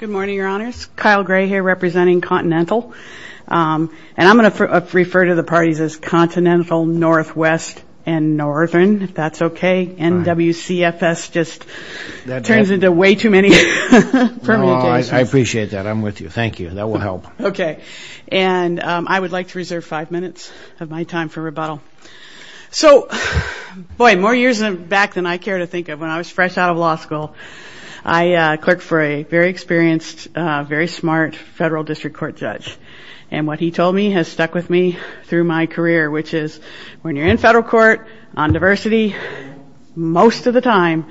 Good morning, Your Honors. Kyle Gray here representing Continental. And I'm going to refer to the parties as Continental, Northwest, and Northern, if that's okay. NWCFS just turns into way too many permutations. No, I appreciate that. I'm with you. Thank you. That will help. Okay. And I would like to reserve five minutes of my time for rebuttal. So, boy, more years back than I care to think of, when I was fresh out of law school, I clerked for a very experienced, very smart federal district court judge. And what he told me has stuck with me through my career, which is, when you're in federal court on diversity, most of the time,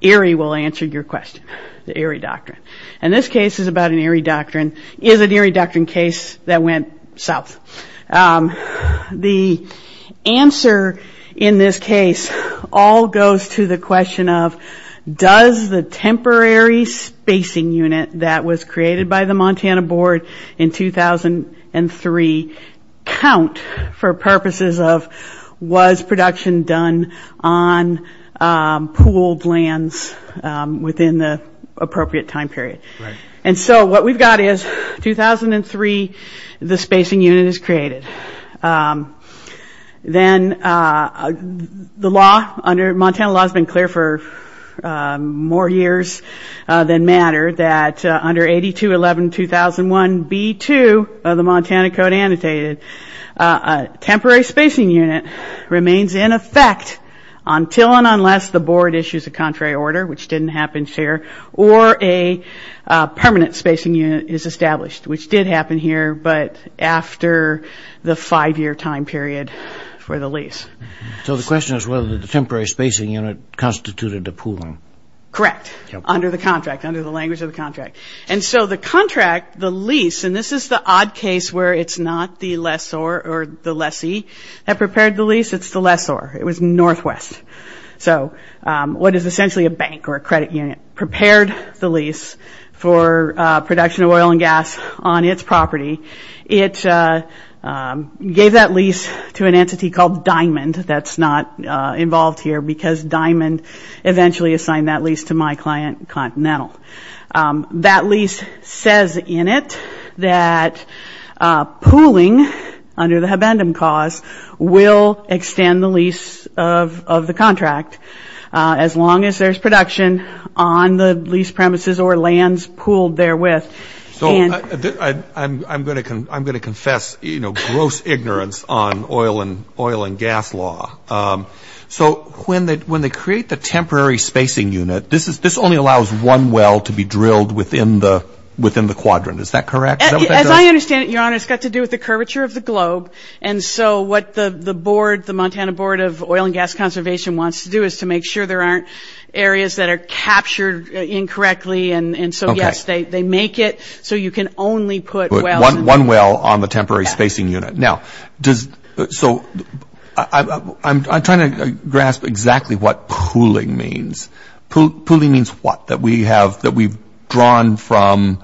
Erie will answer your question. The Erie Doctrine. And this case is about an Erie Doctrine, is an Erie Doctrine case that went south. The answer in this case all goes to the question of, does the temporary spacing unit that was created by the Montana Board in 2003 count for purposes of, was production done on pooled lands within the appropriate time period? Right. And so what we've got is, 2003, the spacing unit is created. Then the law under, Montana law has been clear for more years than matter, that under 8211-2001-B2 of the Montana Code Annotated, a temporary spacing unit remains in effect until and unless the board issues a contrary order, which didn't happen here, or a permanent spacing unit is established, which did happen here, but after the five-year time period for the lease. So the question is whether the temporary spacing unit constituted a pooling. Correct. Under the contract, under the language of the contract. And so the contract, the lease, and this is the odd case where it's not the lessor or the lessee that prepared the lease. It's the lessor. It was northwest. So what is essentially a bank or a credit unit prepared the lease for production of oil and gas on its property. It gave that lease to an entity called Diamond that's not involved here because Diamond eventually assigned that lease to my client, Continental. That lease says in it that pooling under the Habendum cause will extend the lease of the contract as long as there's production on the lease premises or lands pooled therewith. So I'm going to confess, you know, gross ignorance on oil and gas law. So when they create the temporary spacing unit, this only allows one well to be drilled within the quadrant. Is that correct? As I understand it, Your Honor, it's got to do with the curvature of the globe. And so what the board, the Montana Board of Oil and Gas Conservation, wants to do is to make sure there aren't areas that are captured incorrectly. And so, yes, they make it so you can only put one well on the temporary spacing unit. Now, so I'm trying to grasp exactly what pooling means. Pooling means what? That we've drawn from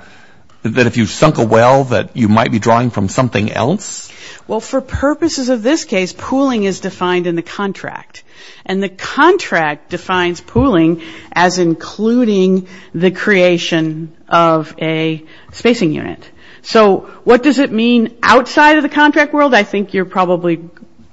that if you sunk a well that you might be drawing from something else? Well, for purposes of this case, pooling is defined in the contract. And the contract defines pooling as including the creation of a spacing unit. So what does it mean outside of the contract world? I think you're probably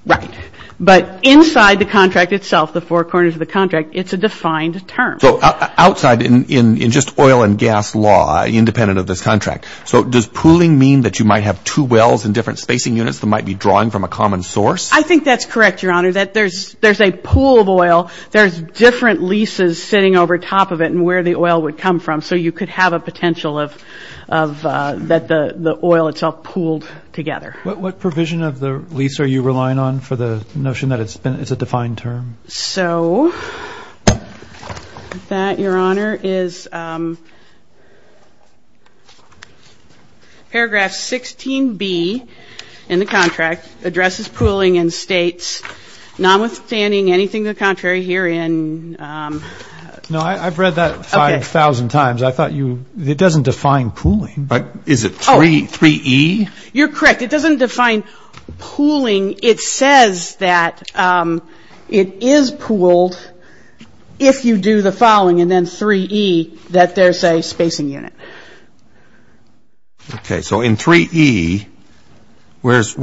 right. But inside the contract itself, the four corners of the contract, it's a defined term. So outside in just oil and gas law, independent of this contract, so does pooling mean that you might have two wells in different spacing units that might be drawing from a common source? I think that's correct, Your Honor, that there's a pool of oil. There's different leases sitting over top of it and where the oil would come from. So you could have a potential that the oil itself pooled together. What provision of the lease are you relying on for the notion that it's a defined term? So that, Your Honor, is paragraph 16B in the contract, addresses pooling in states, notwithstanding anything to the contrary herein. No, I've read that 5,000 times. It doesn't define pooling. Is it 3E? You're correct. It doesn't define pooling. It says that it is pooled if you do the following and then 3E, that there's a spacing unit. Okay, so in 3E, where is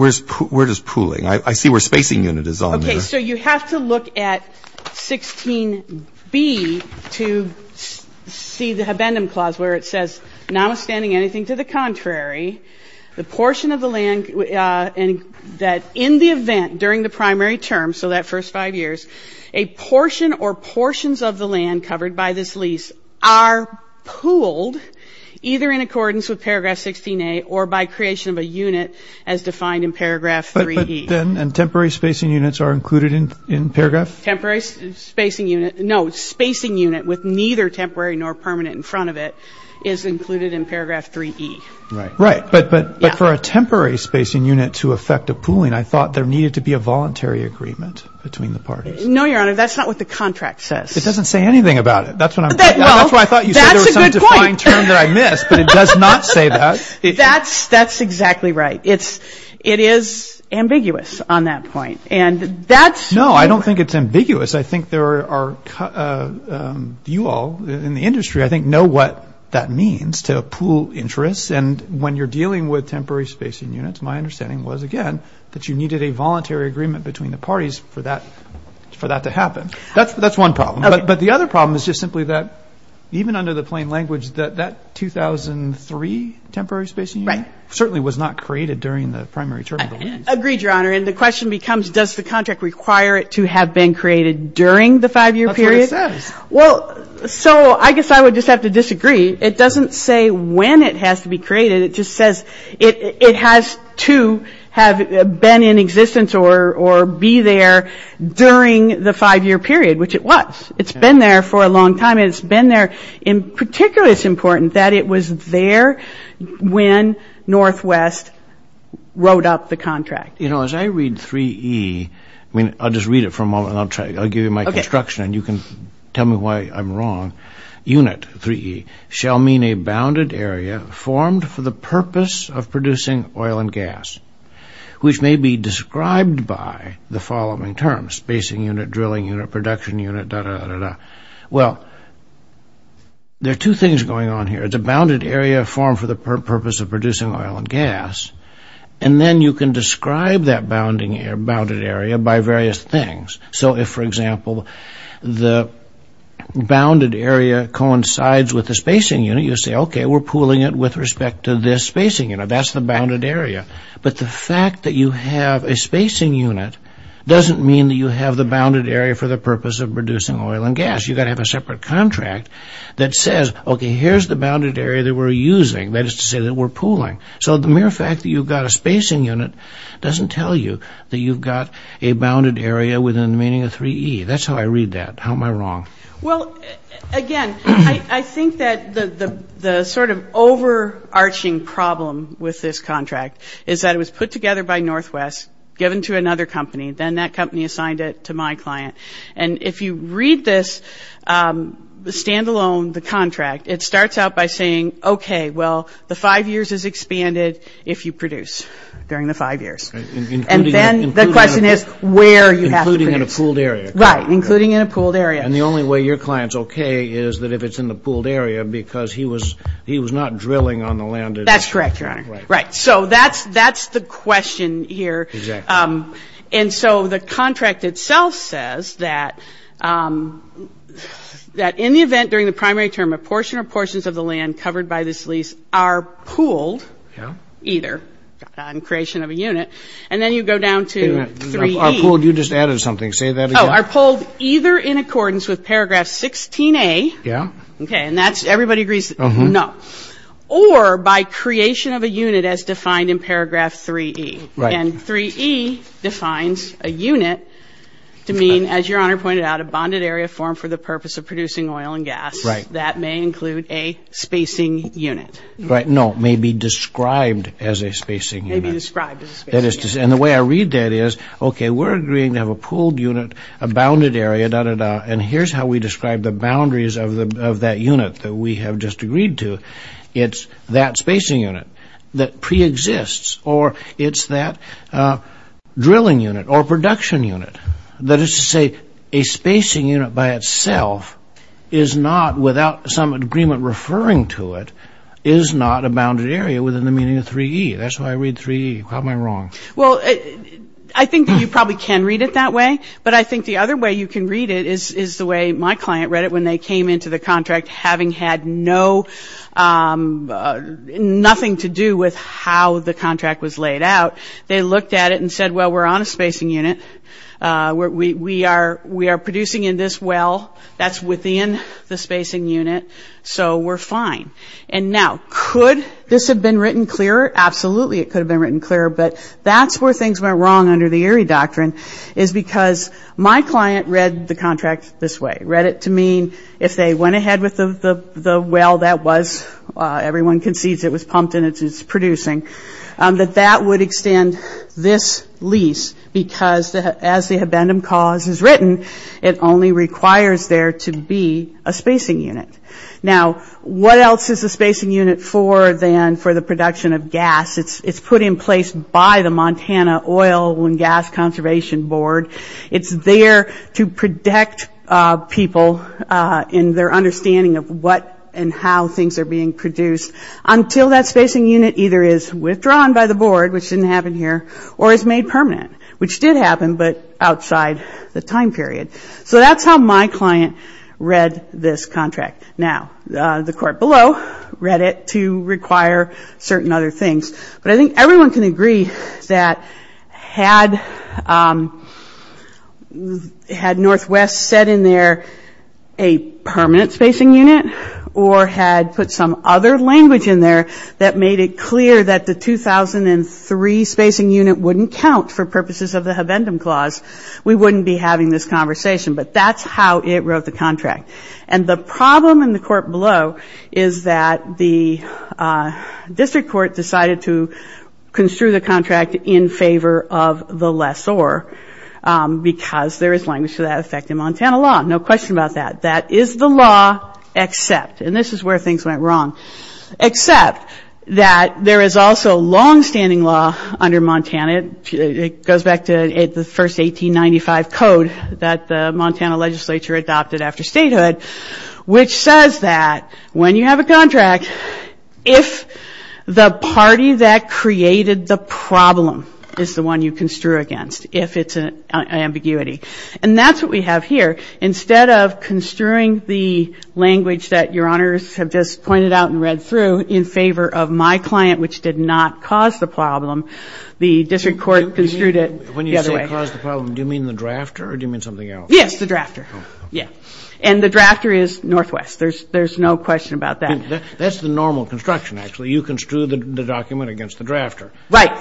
pooling? I see where spacing unit is on there. So you have to look at 16B to see the habendum clause where it says, notwithstanding anything to the contrary, the portion of the land that in the event during the primary term, so that first five years, a portion or portions of the land covered by this lease are pooled either in accordance with paragraph 16A or by creation of a unit as defined in paragraph 3E. And temporary spacing units are included in paragraph? Temporary spacing unit, no. Spacing unit with neither temporary nor permanent in front of it is included in paragraph 3E. Right. But for a temporary spacing unit to affect a pooling, I thought there needed to be a voluntary agreement between the parties. No, Your Honor, that's not what the contract says. It doesn't say anything about it. That's what I'm getting at. That's a good point. That's why I thought you said there was some defined term that I missed, but it does not say that. That's exactly right. It is ambiguous on that point. No, I don't think it's ambiguous. I think there are you all in the industry, I think, know what that means to pool interests. And when you're dealing with temporary spacing units, my understanding was, again, that you needed a voluntary agreement between the parties for that to happen. That's one problem. But the other problem is just simply that even under the plain language, that 2003 temporary spacing unit certainly was not created during the primary term of the lease. Agreed, Your Honor. And the question becomes, does the contract require it to have been created during the five-year period? That's what it says. Well, so I guess I would just have to disagree. It doesn't say when it has to be created. It just says it has to have been in existence or be there during the five-year period, which it was. It's been there for a long time. It's been there. In particular, it's important that it was there when Northwest wrote up the contract. You know, as I read 3E, I mean, I'll just read it for a moment and I'll give you my construction and you can tell me why I'm wrong. Unit, 3E, shall mean a bounded area formed for the purpose of producing oil and gas, which may be described by the following terms, spacing unit, drilling unit, production unit, da-da-da-da-da. Well, there are two things going on here. It's a bounded area formed for the purpose of producing oil and gas, and then you can describe that bounded area by various things. So if, for example, the bounded area coincides with the spacing unit, you say, okay, we're pooling it with respect to this spacing unit. That's the bounded area. But the fact that you have a spacing unit doesn't mean that you have the bounded area for the purpose of producing oil and gas. You've got to have a separate contract that says, okay, here's the bounded area that we're using, that is to say that we're pooling. So the mere fact that you've got a spacing unit doesn't tell you that you've got a bounded area within the meaning of 3E. That's how I read that. How am I wrong? Well, again, I think that the sort of overarching problem with this contract is that it was put together by Northwest, given to another company, then that company assigned it to my client. And if you read this standalone, the contract, it starts out by saying, okay, well, the five years is expanded if you produce during the five years. And then the question is where you have to produce. Including in a pooled area. Right, including in a pooled area. And the only way your client's okay is that if it's in the pooled area because he was not drilling on the land. That's correct, Your Honor. Right. So that's the question here. Exactly. And so the contract itself says that in the event during the primary term, a portion or portions of the land covered by this lease are pooled either, in creation of a unit, and then you go down to 3E. Are pooled, you just added something. Say that again. Oh, are pooled either in accordance with paragraph 16A. Yeah. Okay, and that's, everybody agrees, no. Or by creation of a unit as defined in paragraph 3E. Right. And 3E defines a unit to mean, as Your Honor pointed out, a bonded area formed for the purpose of producing oil and gas. Right. That may include a spacing unit. Right, no, may be described as a spacing unit. May be described as a spacing unit. And the way I read that is, okay, we're agreeing to have a pooled unit, a bounded area, da-da-da, and here's how we describe the boundaries of that unit that we have just agreed to. It's that spacing unit that pre-exists, or it's that drilling unit or production unit. That is to say, a spacing unit by itself is not, without some agreement referring to it, is not a bounded area within the meaning of 3E. That's why I read 3E. How am I wrong? Well, I think that you probably can read it that way, but I think the other way you can read it is the way my client read it when they came into the contract having had nothing to do with how the contract was laid out. They looked at it and said, well, we're on a spacing unit. We are producing in this well. That's within the spacing unit, so we're fine. And now, could this have been written clearer? Absolutely, it could have been written clearer, but that's where things went wrong under the Erie Doctrine is because my client read the contract this way. He read it to mean if they went ahead with the well that was, everyone concedes it was pumped and it's producing, that that would extend this lease because as the habendum cause is written, it only requires there to be a spacing unit. Now, what else is the spacing unit for than for the production of gas? It's put in place by the Montana Oil and Gas Conservation Board. It's there to protect people in their understanding of what and how things are being produced until that spacing unit either is withdrawn by the board, which didn't happen here, or is made permanent, which did happen, but outside the time period. So that's how my client read this contract. Now, the court below read it to require certain other things, but I think everyone can agree that had Northwest said in there a permanent spacing unit or had put some other language in there that made it clear that the 2003 spacing unit wouldn't count for purposes of the habendum clause, we wouldn't be having this conversation, but that's how it wrote the contract. And the problem in the court below is that the district court decided to construe the contract in favor of the lessor because there is language to that effect in Montana law. No question about that. That is the law except, and this is where things went wrong, except that there is also longstanding law under Montana. It goes back to the first 1895 code that the Montana legislature adopted after statehood, which says that when you have a contract, if the party that created the problem is the one you construe against, if it's an ambiguity. And that's what we have here. Instead of construing the language that your honors have just pointed out and read through in favor of my client, which did not cause the problem, the district court construed it the other way. When you say caused the problem, do you mean the drafter or do you mean something else? Yes, the drafter. And the drafter is Northwest. There's no question about that. That's the normal construction, actually. You construe the document against the drafter. Right.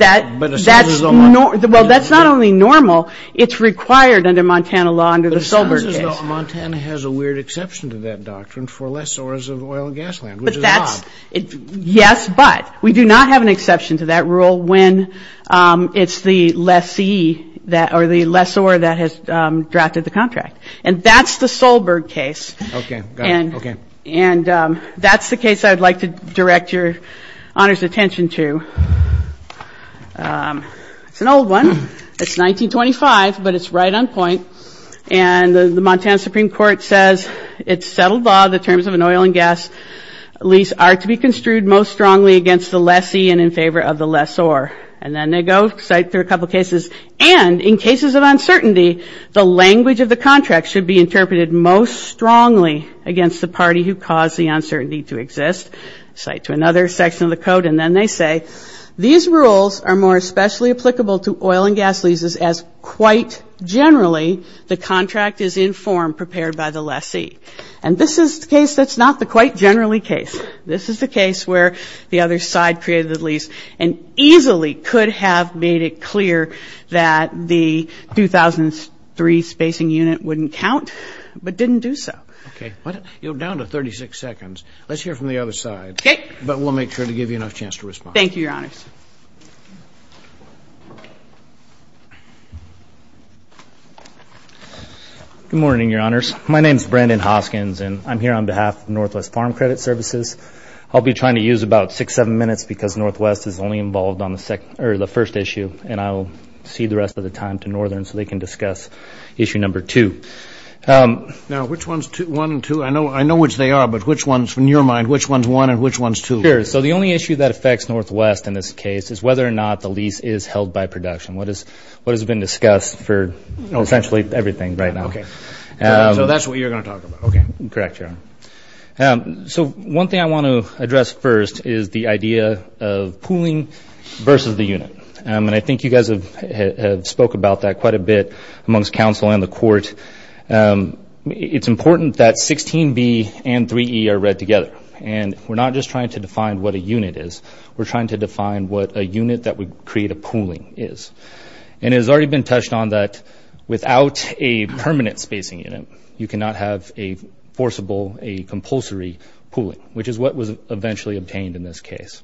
Well, that's not only normal. It's required under Montana law under the Solberg case. So Montana has a weird exception to that doctrine for lessors of oil and gas land, which is odd. Yes, but we do not have an exception to that rule when it's the lessee or the lessor that has drafted the contract. And that's the Solberg case. Okay. And that's the case I would like to direct your honors' attention to. It's an old one. It's 1925, but it's right on point. And the Montana Supreme Court says it's settled law the terms of an oil and gas lease are to be construed most strongly against the lessee and in favor of the lessor. And then they go cite through a couple cases. And in cases of uncertainty, the language of the contract should be interpreted most strongly against the party who caused the uncertainty to exist. Cite to another section of the code, and then they say, These rules are more especially applicable to oil and gas leases as quite generally the contract is in form prepared by the lessee. And this is the case that's not the quite generally case. This is the case where the other side created the lease and easily could have made it clear that the 2003 spacing unit wouldn't count, but didn't do so. Okay. You're down to 36 seconds. Let's hear from the other side. Okay. But we'll make sure to give you enough chance to respond. Thank you, Your Honors. Good morning, Your Honors. My name is Brandon Hoskins, and I'm here on behalf of Northwest Farm Credit Services. I'll be trying to use about six, seven minutes because Northwest is only involved on the first issue, and I'll cede the rest of the time to Northern so they can discuss issue number two. Now, which one's one and two? I know which they are, but which ones, in your mind, which one's one and which one's two? Sure. So the only issue that affects Northwest in this case is whether or not the lease is held by production. What has been discussed for essentially everything right now. Okay. So that's what you're going to talk about. Okay. Correct, Your Honor. So one thing I want to address first is the idea of pooling versus the unit. And I think you guys have spoke about that quite a bit amongst counsel and the court. It's important that 16B and 3E are read together. And we're not just trying to define what a unit is. We're trying to define what a unit that would create a pooling is. And it has already been touched on that without a permanent spacing unit, you cannot have a forcible, a compulsory pooling, which is what was eventually obtained in this case.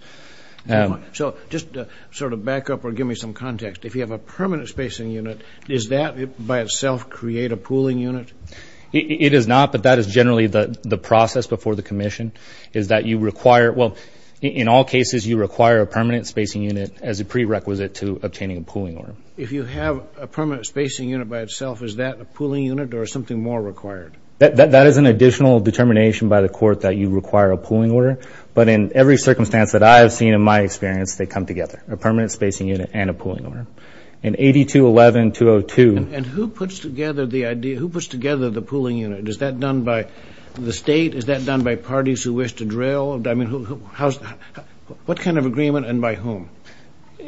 So just sort of back up or give me some context. If you have a permanent spacing unit, does that by itself create a pooling unit? It does not, but that is generally the process before the commission, is that you require, well, in all cases, you require a permanent spacing unit as a prerequisite to obtaining a pooling order. If you have a permanent spacing unit by itself, is that a pooling unit or is something more required? That is an additional determination by the court that you require a pooling order. But in every circumstance that I have seen in my experience, they come together, a permanent spacing unit and a pooling order. And 82-11-202. And who puts together the pooling unit? Is that done by the state? Is that done by parties who wish to drill? I mean, what kind of agreement and by whom?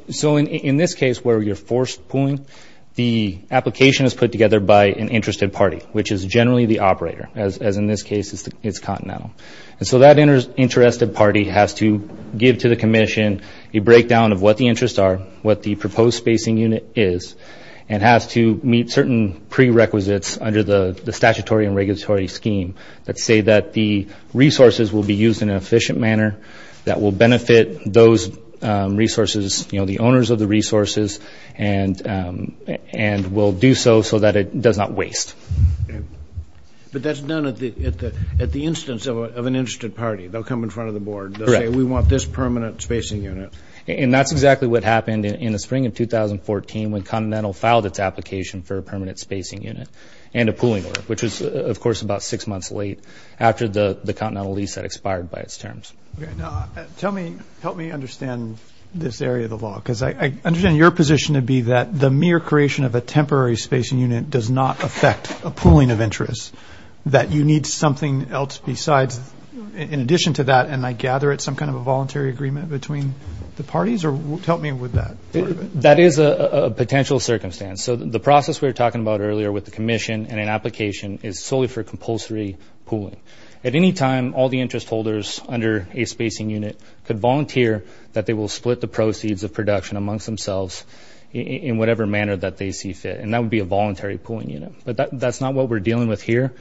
So in this case where you're forced pooling, the application is put together by an interested party, which is generally the operator, as in this case it's continental. And so that interested party has to give to the commission a breakdown of what the interests are, what the proposed spacing unit is, and has to meet certain prerequisites under the statutory and regulatory scheme that say that the resources will be used in an efficient manner, that will benefit those resources, you know, the owners of the resources, and will do so so that it does not waste. But that's done at the instance of an interested party. They'll come in front of the board. They'll say, we want this permanent spacing unit. And that's exactly what happened in the spring of 2014 when Continental filed its application for a permanent spacing unit and a pooling order, which was, of course, about six months late after the Continental lease had expired by its terms. Tell me, help me understand this area of the law, because I understand your position to be that the mere creation of a temporary spacing unit does not affect a pooling of interests, that you need something else besides. In addition to that, and I gather it's some kind of a voluntary agreement between the parties, or help me with that part of it. That is a potential circumstance. So the process we were talking about earlier with the commission and an application is solely for compulsory pooling. At any time, all the interest holders under a spacing unit could volunteer that they will split the proceeds of production amongst themselves in whatever manner that they see fit, and that would be a voluntary pooling unit. But that's not what we're dealing with here.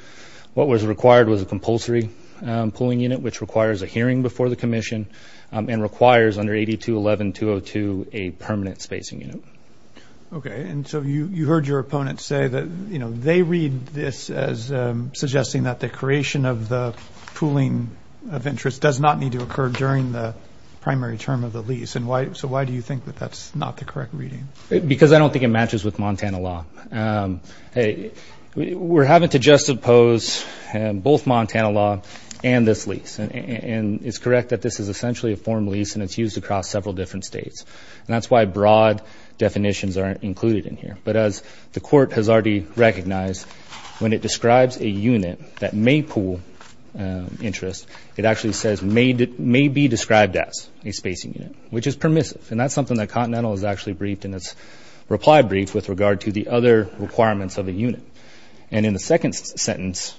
What was required was a compulsory pooling unit, which requires a hearing before the commission and requires under 8211-202 a permanent spacing unit. Okay. And so you heard your opponent say that, you know, they read this as suggesting that the creation of the pooling of interest does not need to occur during the primary term of the lease. So why do you think that that's not the correct reading? Because I don't think it matches with Montana law. Hey, we're having to juxtapose both Montana law and this lease. And it's correct that this is essentially a form lease, and it's used across several different states. And that's why broad definitions aren't included in here. But as the court has already recognized, when it describes a unit that may pool interest, it actually says may be described as a spacing unit, which is permissive. And that's something that Continental has actually briefed in its reply brief with regard to the other requirements of a unit. And in the second sentence,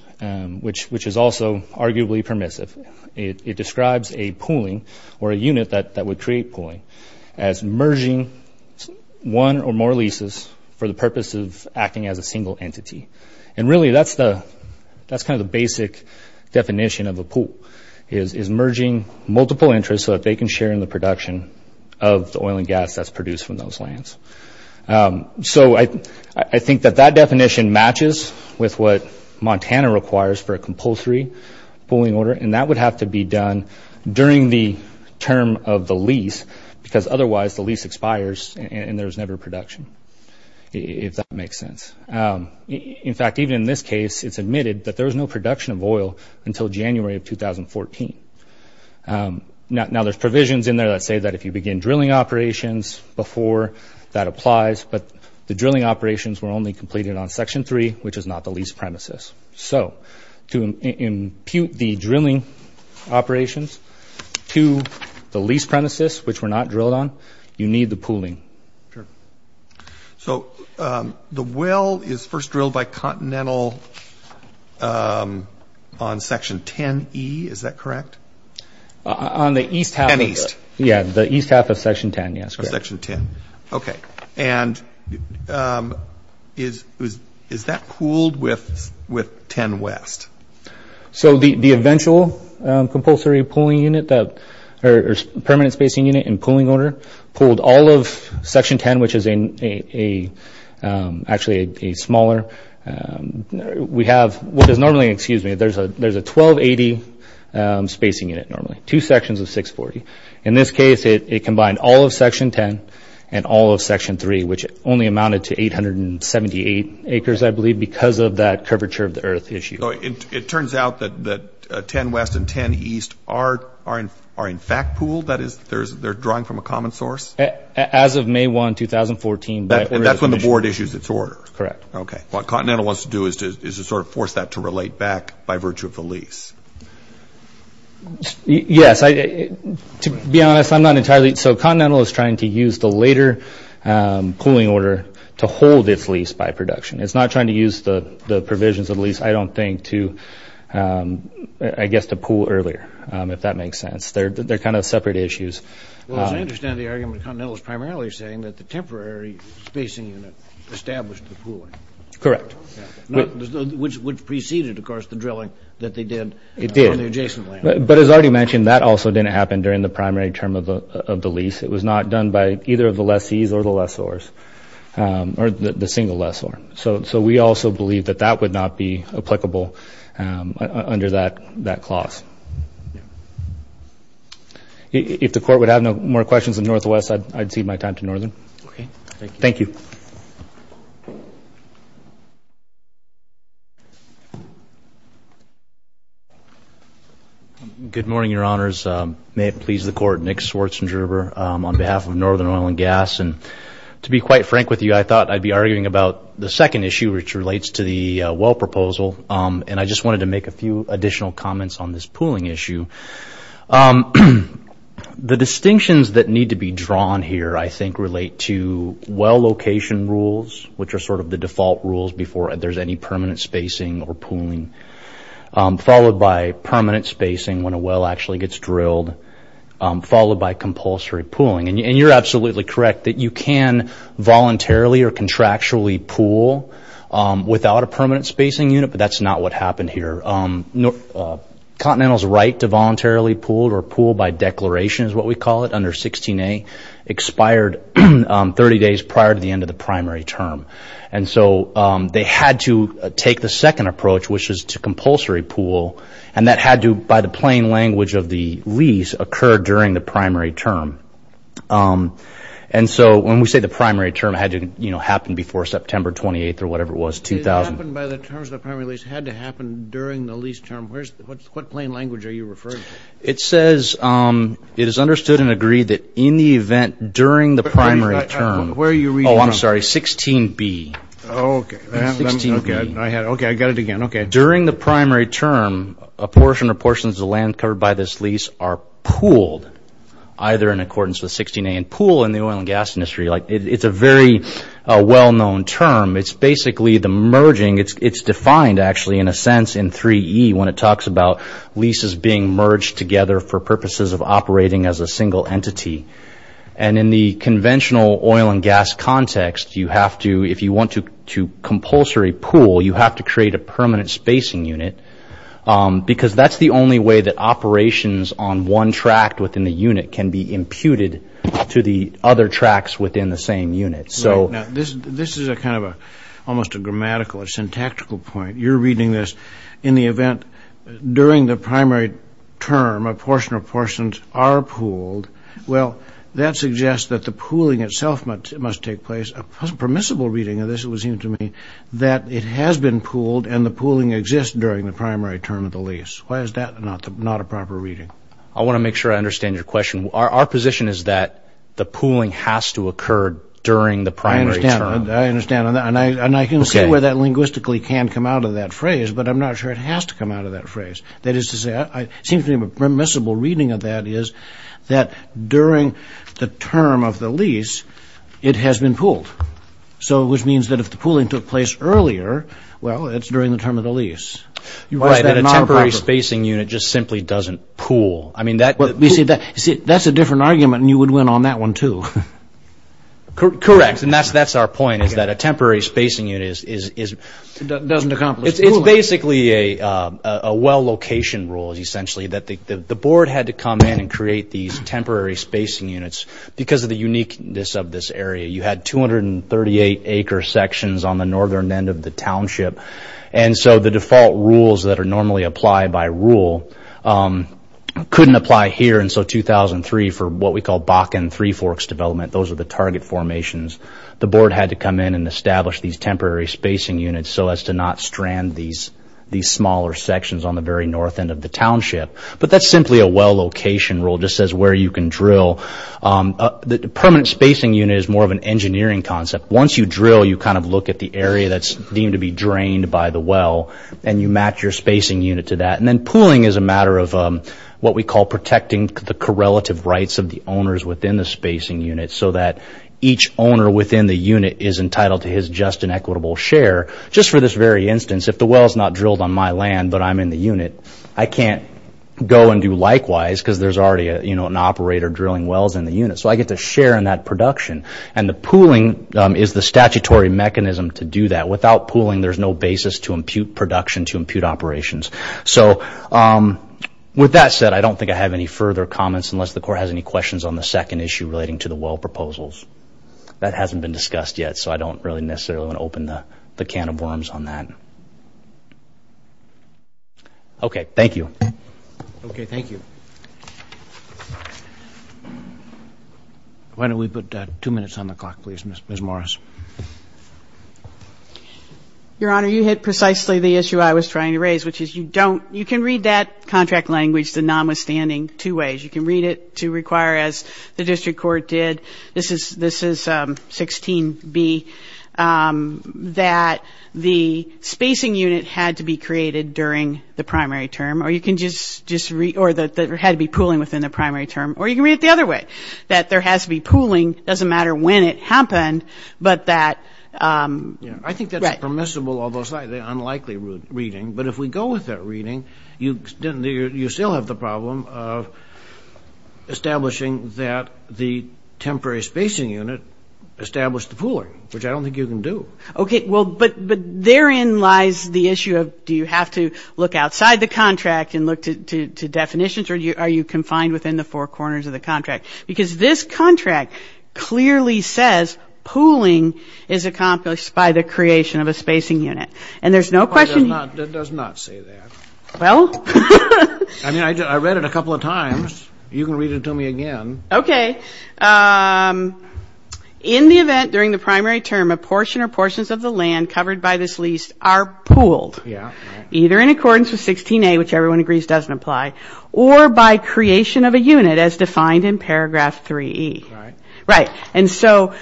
which is also arguably permissive, it describes a pooling or a unit that would create pooling as merging one or more leases for the purpose of acting as a single entity. And really that's kind of the basic definition of a pool is merging multiple interests so that they can share in the production of the oil and gas that's produced from those lands. So I think that that definition matches with what Montana requires for a compulsory pooling order. And that would have to be done during the term of the lease, because otherwise the lease expires and there's never production, if that makes sense. In fact, even in this case, it's admitted that there was no production of oil until January of 2014. Now there's provisions in there that say that if you begin drilling operations before that applies, but the drilling operations were only completed on Section 3, which is not the lease premises. So to impute the drilling operations to the lease premises, which were not drilled on, you need the pooling. So the well is first drilled by Continental on Section 10E, is that correct? On the east half of it. 10 east. Yeah, the east half of Section 10, yes. Section 10, okay. And is that pooled with 10 west? So the eventual compulsory pooling unit or permanent spacing unit and pooling order pooled all of Section 10, which is actually a smaller, we have what is normally, excuse me, there's a 1280 spacing unit normally, two sections of 640. In this case, it combined all of Section 10 and all of Section 3, which only amounted to 878 acres, I believe, because of that curvature of the earth issue. It turns out that 10 west and 10 east are in fact pooled, that is, they're drawing from a common source? As of May 1, 2014. That's when the board issues its order? Correct. Okay. What Continental wants to do is to sort of force that to relate back by virtue of the lease. Yes. To be honest, I'm not entirely, so Continental is trying to use the later pooling order to hold its lease by production. It's not trying to use the provisions of the lease, I don't think, to, I guess, to pool earlier, if that makes sense. They're kind of separate issues. Well, as I understand the argument, Continental is primarily saying that the temporary spacing unit established the pooling. Which preceded, of course, the drilling that they did on the adjacent land. It did. But as I already mentioned, that also didn't happen during the primary term of the lease. It was not done by either of the lessees or the lessors, or the single lessor. So we also believe that that would not be applicable under that clause. If the court would have no more questions of Northwest, I'd cede my time to Northern. Okay. Thank you. Thank you. Good morning, your honors. May it please the court, Nick Schwarzengerber on behalf of Northern Oil and Gas. And to be quite frank with you, I thought I'd be arguing about the second issue, which relates to the well proposal. And I just wanted to make a few additional comments on this pooling issue. The distinctions that need to be drawn here, I think, relate to well location rules. Which are sort of the default rules before there's any permanent spacing or pooling. Followed by permanent spacing when a well actually gets drilled. Followed by compulsory pooling. And you're absolutely correct that you can voluntarily or contractually pool without a permanent spacing unit. But that's not what happened here. Continental's right to voluntarily pool or pool by declaration is what we call it under 16A. Expired 30 days prior to the end of the primary term. And so they had to take the second approach, which is to compulsory pool. And that had to, by the plain language of the lease, occur during the primary term. And so when we say the primary term, it had to happen before September 28th or whatever it was, 2000. It happened by the terms of the primary lease. It had to happen during the lease term. What plain language are you referring to? It says it is understood and agreed that in the event during the primary term. Where are you reading? Oh, I'm sorry, 16B. Okay. 16B. Okay, I got it again. Okay. During the primary term, a portion or portions of land covered by this lease are pooled. Either in accordance with 16A and pool in the oil and gas industry. It's a very well-known term. It's basically the merging. It's defined actually in a sense in 3E when it talks about leases being merged together for purposes of operating as a single entity. And in the conventional oil and gas context, you have to, if you want to compulsory pool, you have to create a permanent spacing unit. Because that's the only way that operations on one tract within the unit can be imputed to the other tracts within the same unit. Right. Now, this is a kind of almost a grammatical, a syntactical point. You're reading this in the event during the primary term, a portion or portions are pooled. Well, that suggests that the pooling itself must take place. A permissible reading of this, it would seem to me, that it has been pooled and the pooling exists during the primary term of the lease. Why is that not a proper reading? I want to make sure I understand your question. Our position is that the pooling has to occur during the primary term. I understand. And I can see where that linguistically can come out of that phrase, but I'm not sure it has to come out of that phrase. That is to say, it seems to me a permissible reading of that is that during the term of the lease, it has been pooled. So, which means that if the pooling took place earlier, well, it's during the term of the lease. Right, and a temporary spacing unit just simply doesn't pool. That's a different argument, and you would win on that one, too. Correct. And that's our point, is that a temporary spacing unit is... Doesn't accomplish pooling. It's basically a well-location rule, essentially, that the board had to come in and create these temporary spacing units because of the uniqueness of this area. You had 238-acre sections on the northern end of the township, and so the default rules that are normally applied by rule couldn't apply here. And so 2003, for what we call Bakken three-forks development, those are the target formations, the board had to come in and establish these temporary spacing units so as to not strand these smaller sections on the very north end of the township. But that's simply a well-location rule. It just says where you can drill. The permanent spacing unit is more of an engineering concept. Once you drill, you kind of look at the area that's deemed to be drained by the well, and you match your spacing unit to that. And then pooling is a matter of what we call protecting the correlative rights of the owners within the spacing unit so that each owner within the unit is entitled to his just and equitable share. Just for this very instance, if the well is not drilled on my land but I'm in the unit, I can't go and do likewise because there's already an operator drilling wells in the unit. So I get to share in that production. And the pooling is the statutory mechanism to do that. Without pooling, there's no basis to impute production, to impute operations. So with that said, I don't think I have any further comments unless the Court has any questions on the second issue relating to the well proposals. That hasn't been discussed yet, so I don't really necessarily want to open the can of worms on that. Okay, thank you. Okay, thank you. Why don't we put two minutes on the clock, please, Ms. Morris. Your Honor, you hit precisely the issue I was trying to raise, which is you can read that contract language, the nonwithstanding, two ways. You can read it to require, as the District Court did, this is 16b, that the spacing unit had to be created during the primary term or it had to be pooling within the primary term. Or you can read it the other way, that there has to be pooling, doesn't matter when it happened, but that, right. I think that's permissible, although it's an unlikely reading. But if we go with that reading, you still have the problem of establishing that the temporary spacing unit established the pooling, which I don't think you can do. Okay, well, but therein lies the issue of do you have to look outside the contract and look to definitions or are you confined within the four corners of the contract? Because this contract clearly says pooling is accomplished by the creation of a spacing unit. And there's no question you It does not say that. Well. I mean, I read it a couple of times. You can read it to me again. Okay. In the event during the primary term a portion or portions of the land covered by this lease are pooled. Yeah. Either in accordance with 16a, which everyone agrees doesn't apply, or by creation of a unit as defined in paragraph 3E. Right. Right. And so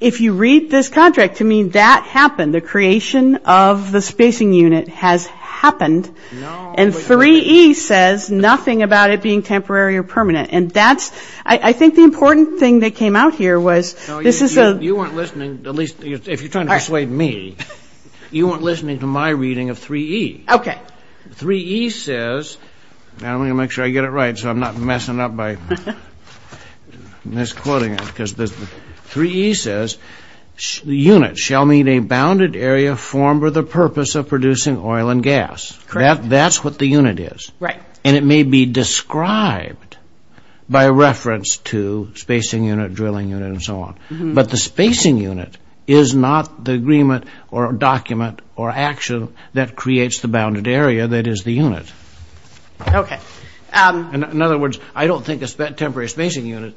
if you read this contract to me, that happened. The creation of the spacing unit has happened. No. And 3E says nothing about it being temporary or permanent. And that's, I think the important thing that came out here was this is a No, you weren't listening, at least if you're trying to persuade me. You weren't listening to my reading of 3E. Okay. But 3E says, and I'm going to make sure I get it right so I'm not messing up by misquoting it, because 3E says units shall meet a bounded area formed for the purpose of producing oil and gas. Correct. That's what the unit is. Right. And it may be described by reference to spacing unit, drilling unit, and so on. But the spacing unit is not the agreement or document or action that creates the bounded area that is the unit. Okay. In other words, I don't think a temporary spacing unit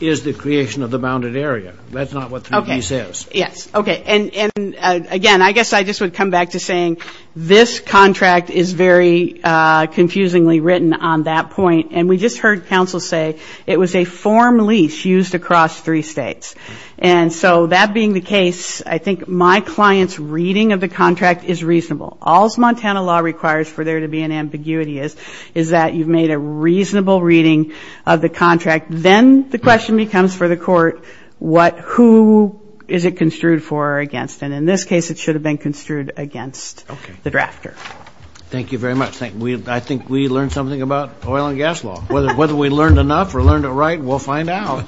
is the creation of the bounded area. That's not what 3E says. Okay. Yes. Okay. And, again, I guess I just would come back to saying this contract is very confusingly written on that point. And we just heard counsel say it was a form lease used across three states. And so that being the case, I think my client's reading of the contract is reasonable. All's Montana law requires for there to be an ambiguity is is that you've made a reasonable reading of the contract. Then the question becomes for the court what who is it construed for or against. And in this case, it should have been construed against the drafter. Okay. Thank you very much. I think we learned something about oil and gas law. Whether we learned enough or learned it right, we'll find out.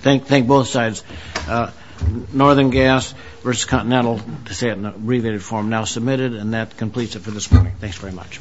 Thank both sides. Northern Gas versus Continental, to say it in an abbreviated form, now submitted. And that completes it for this morning. Thanks very much.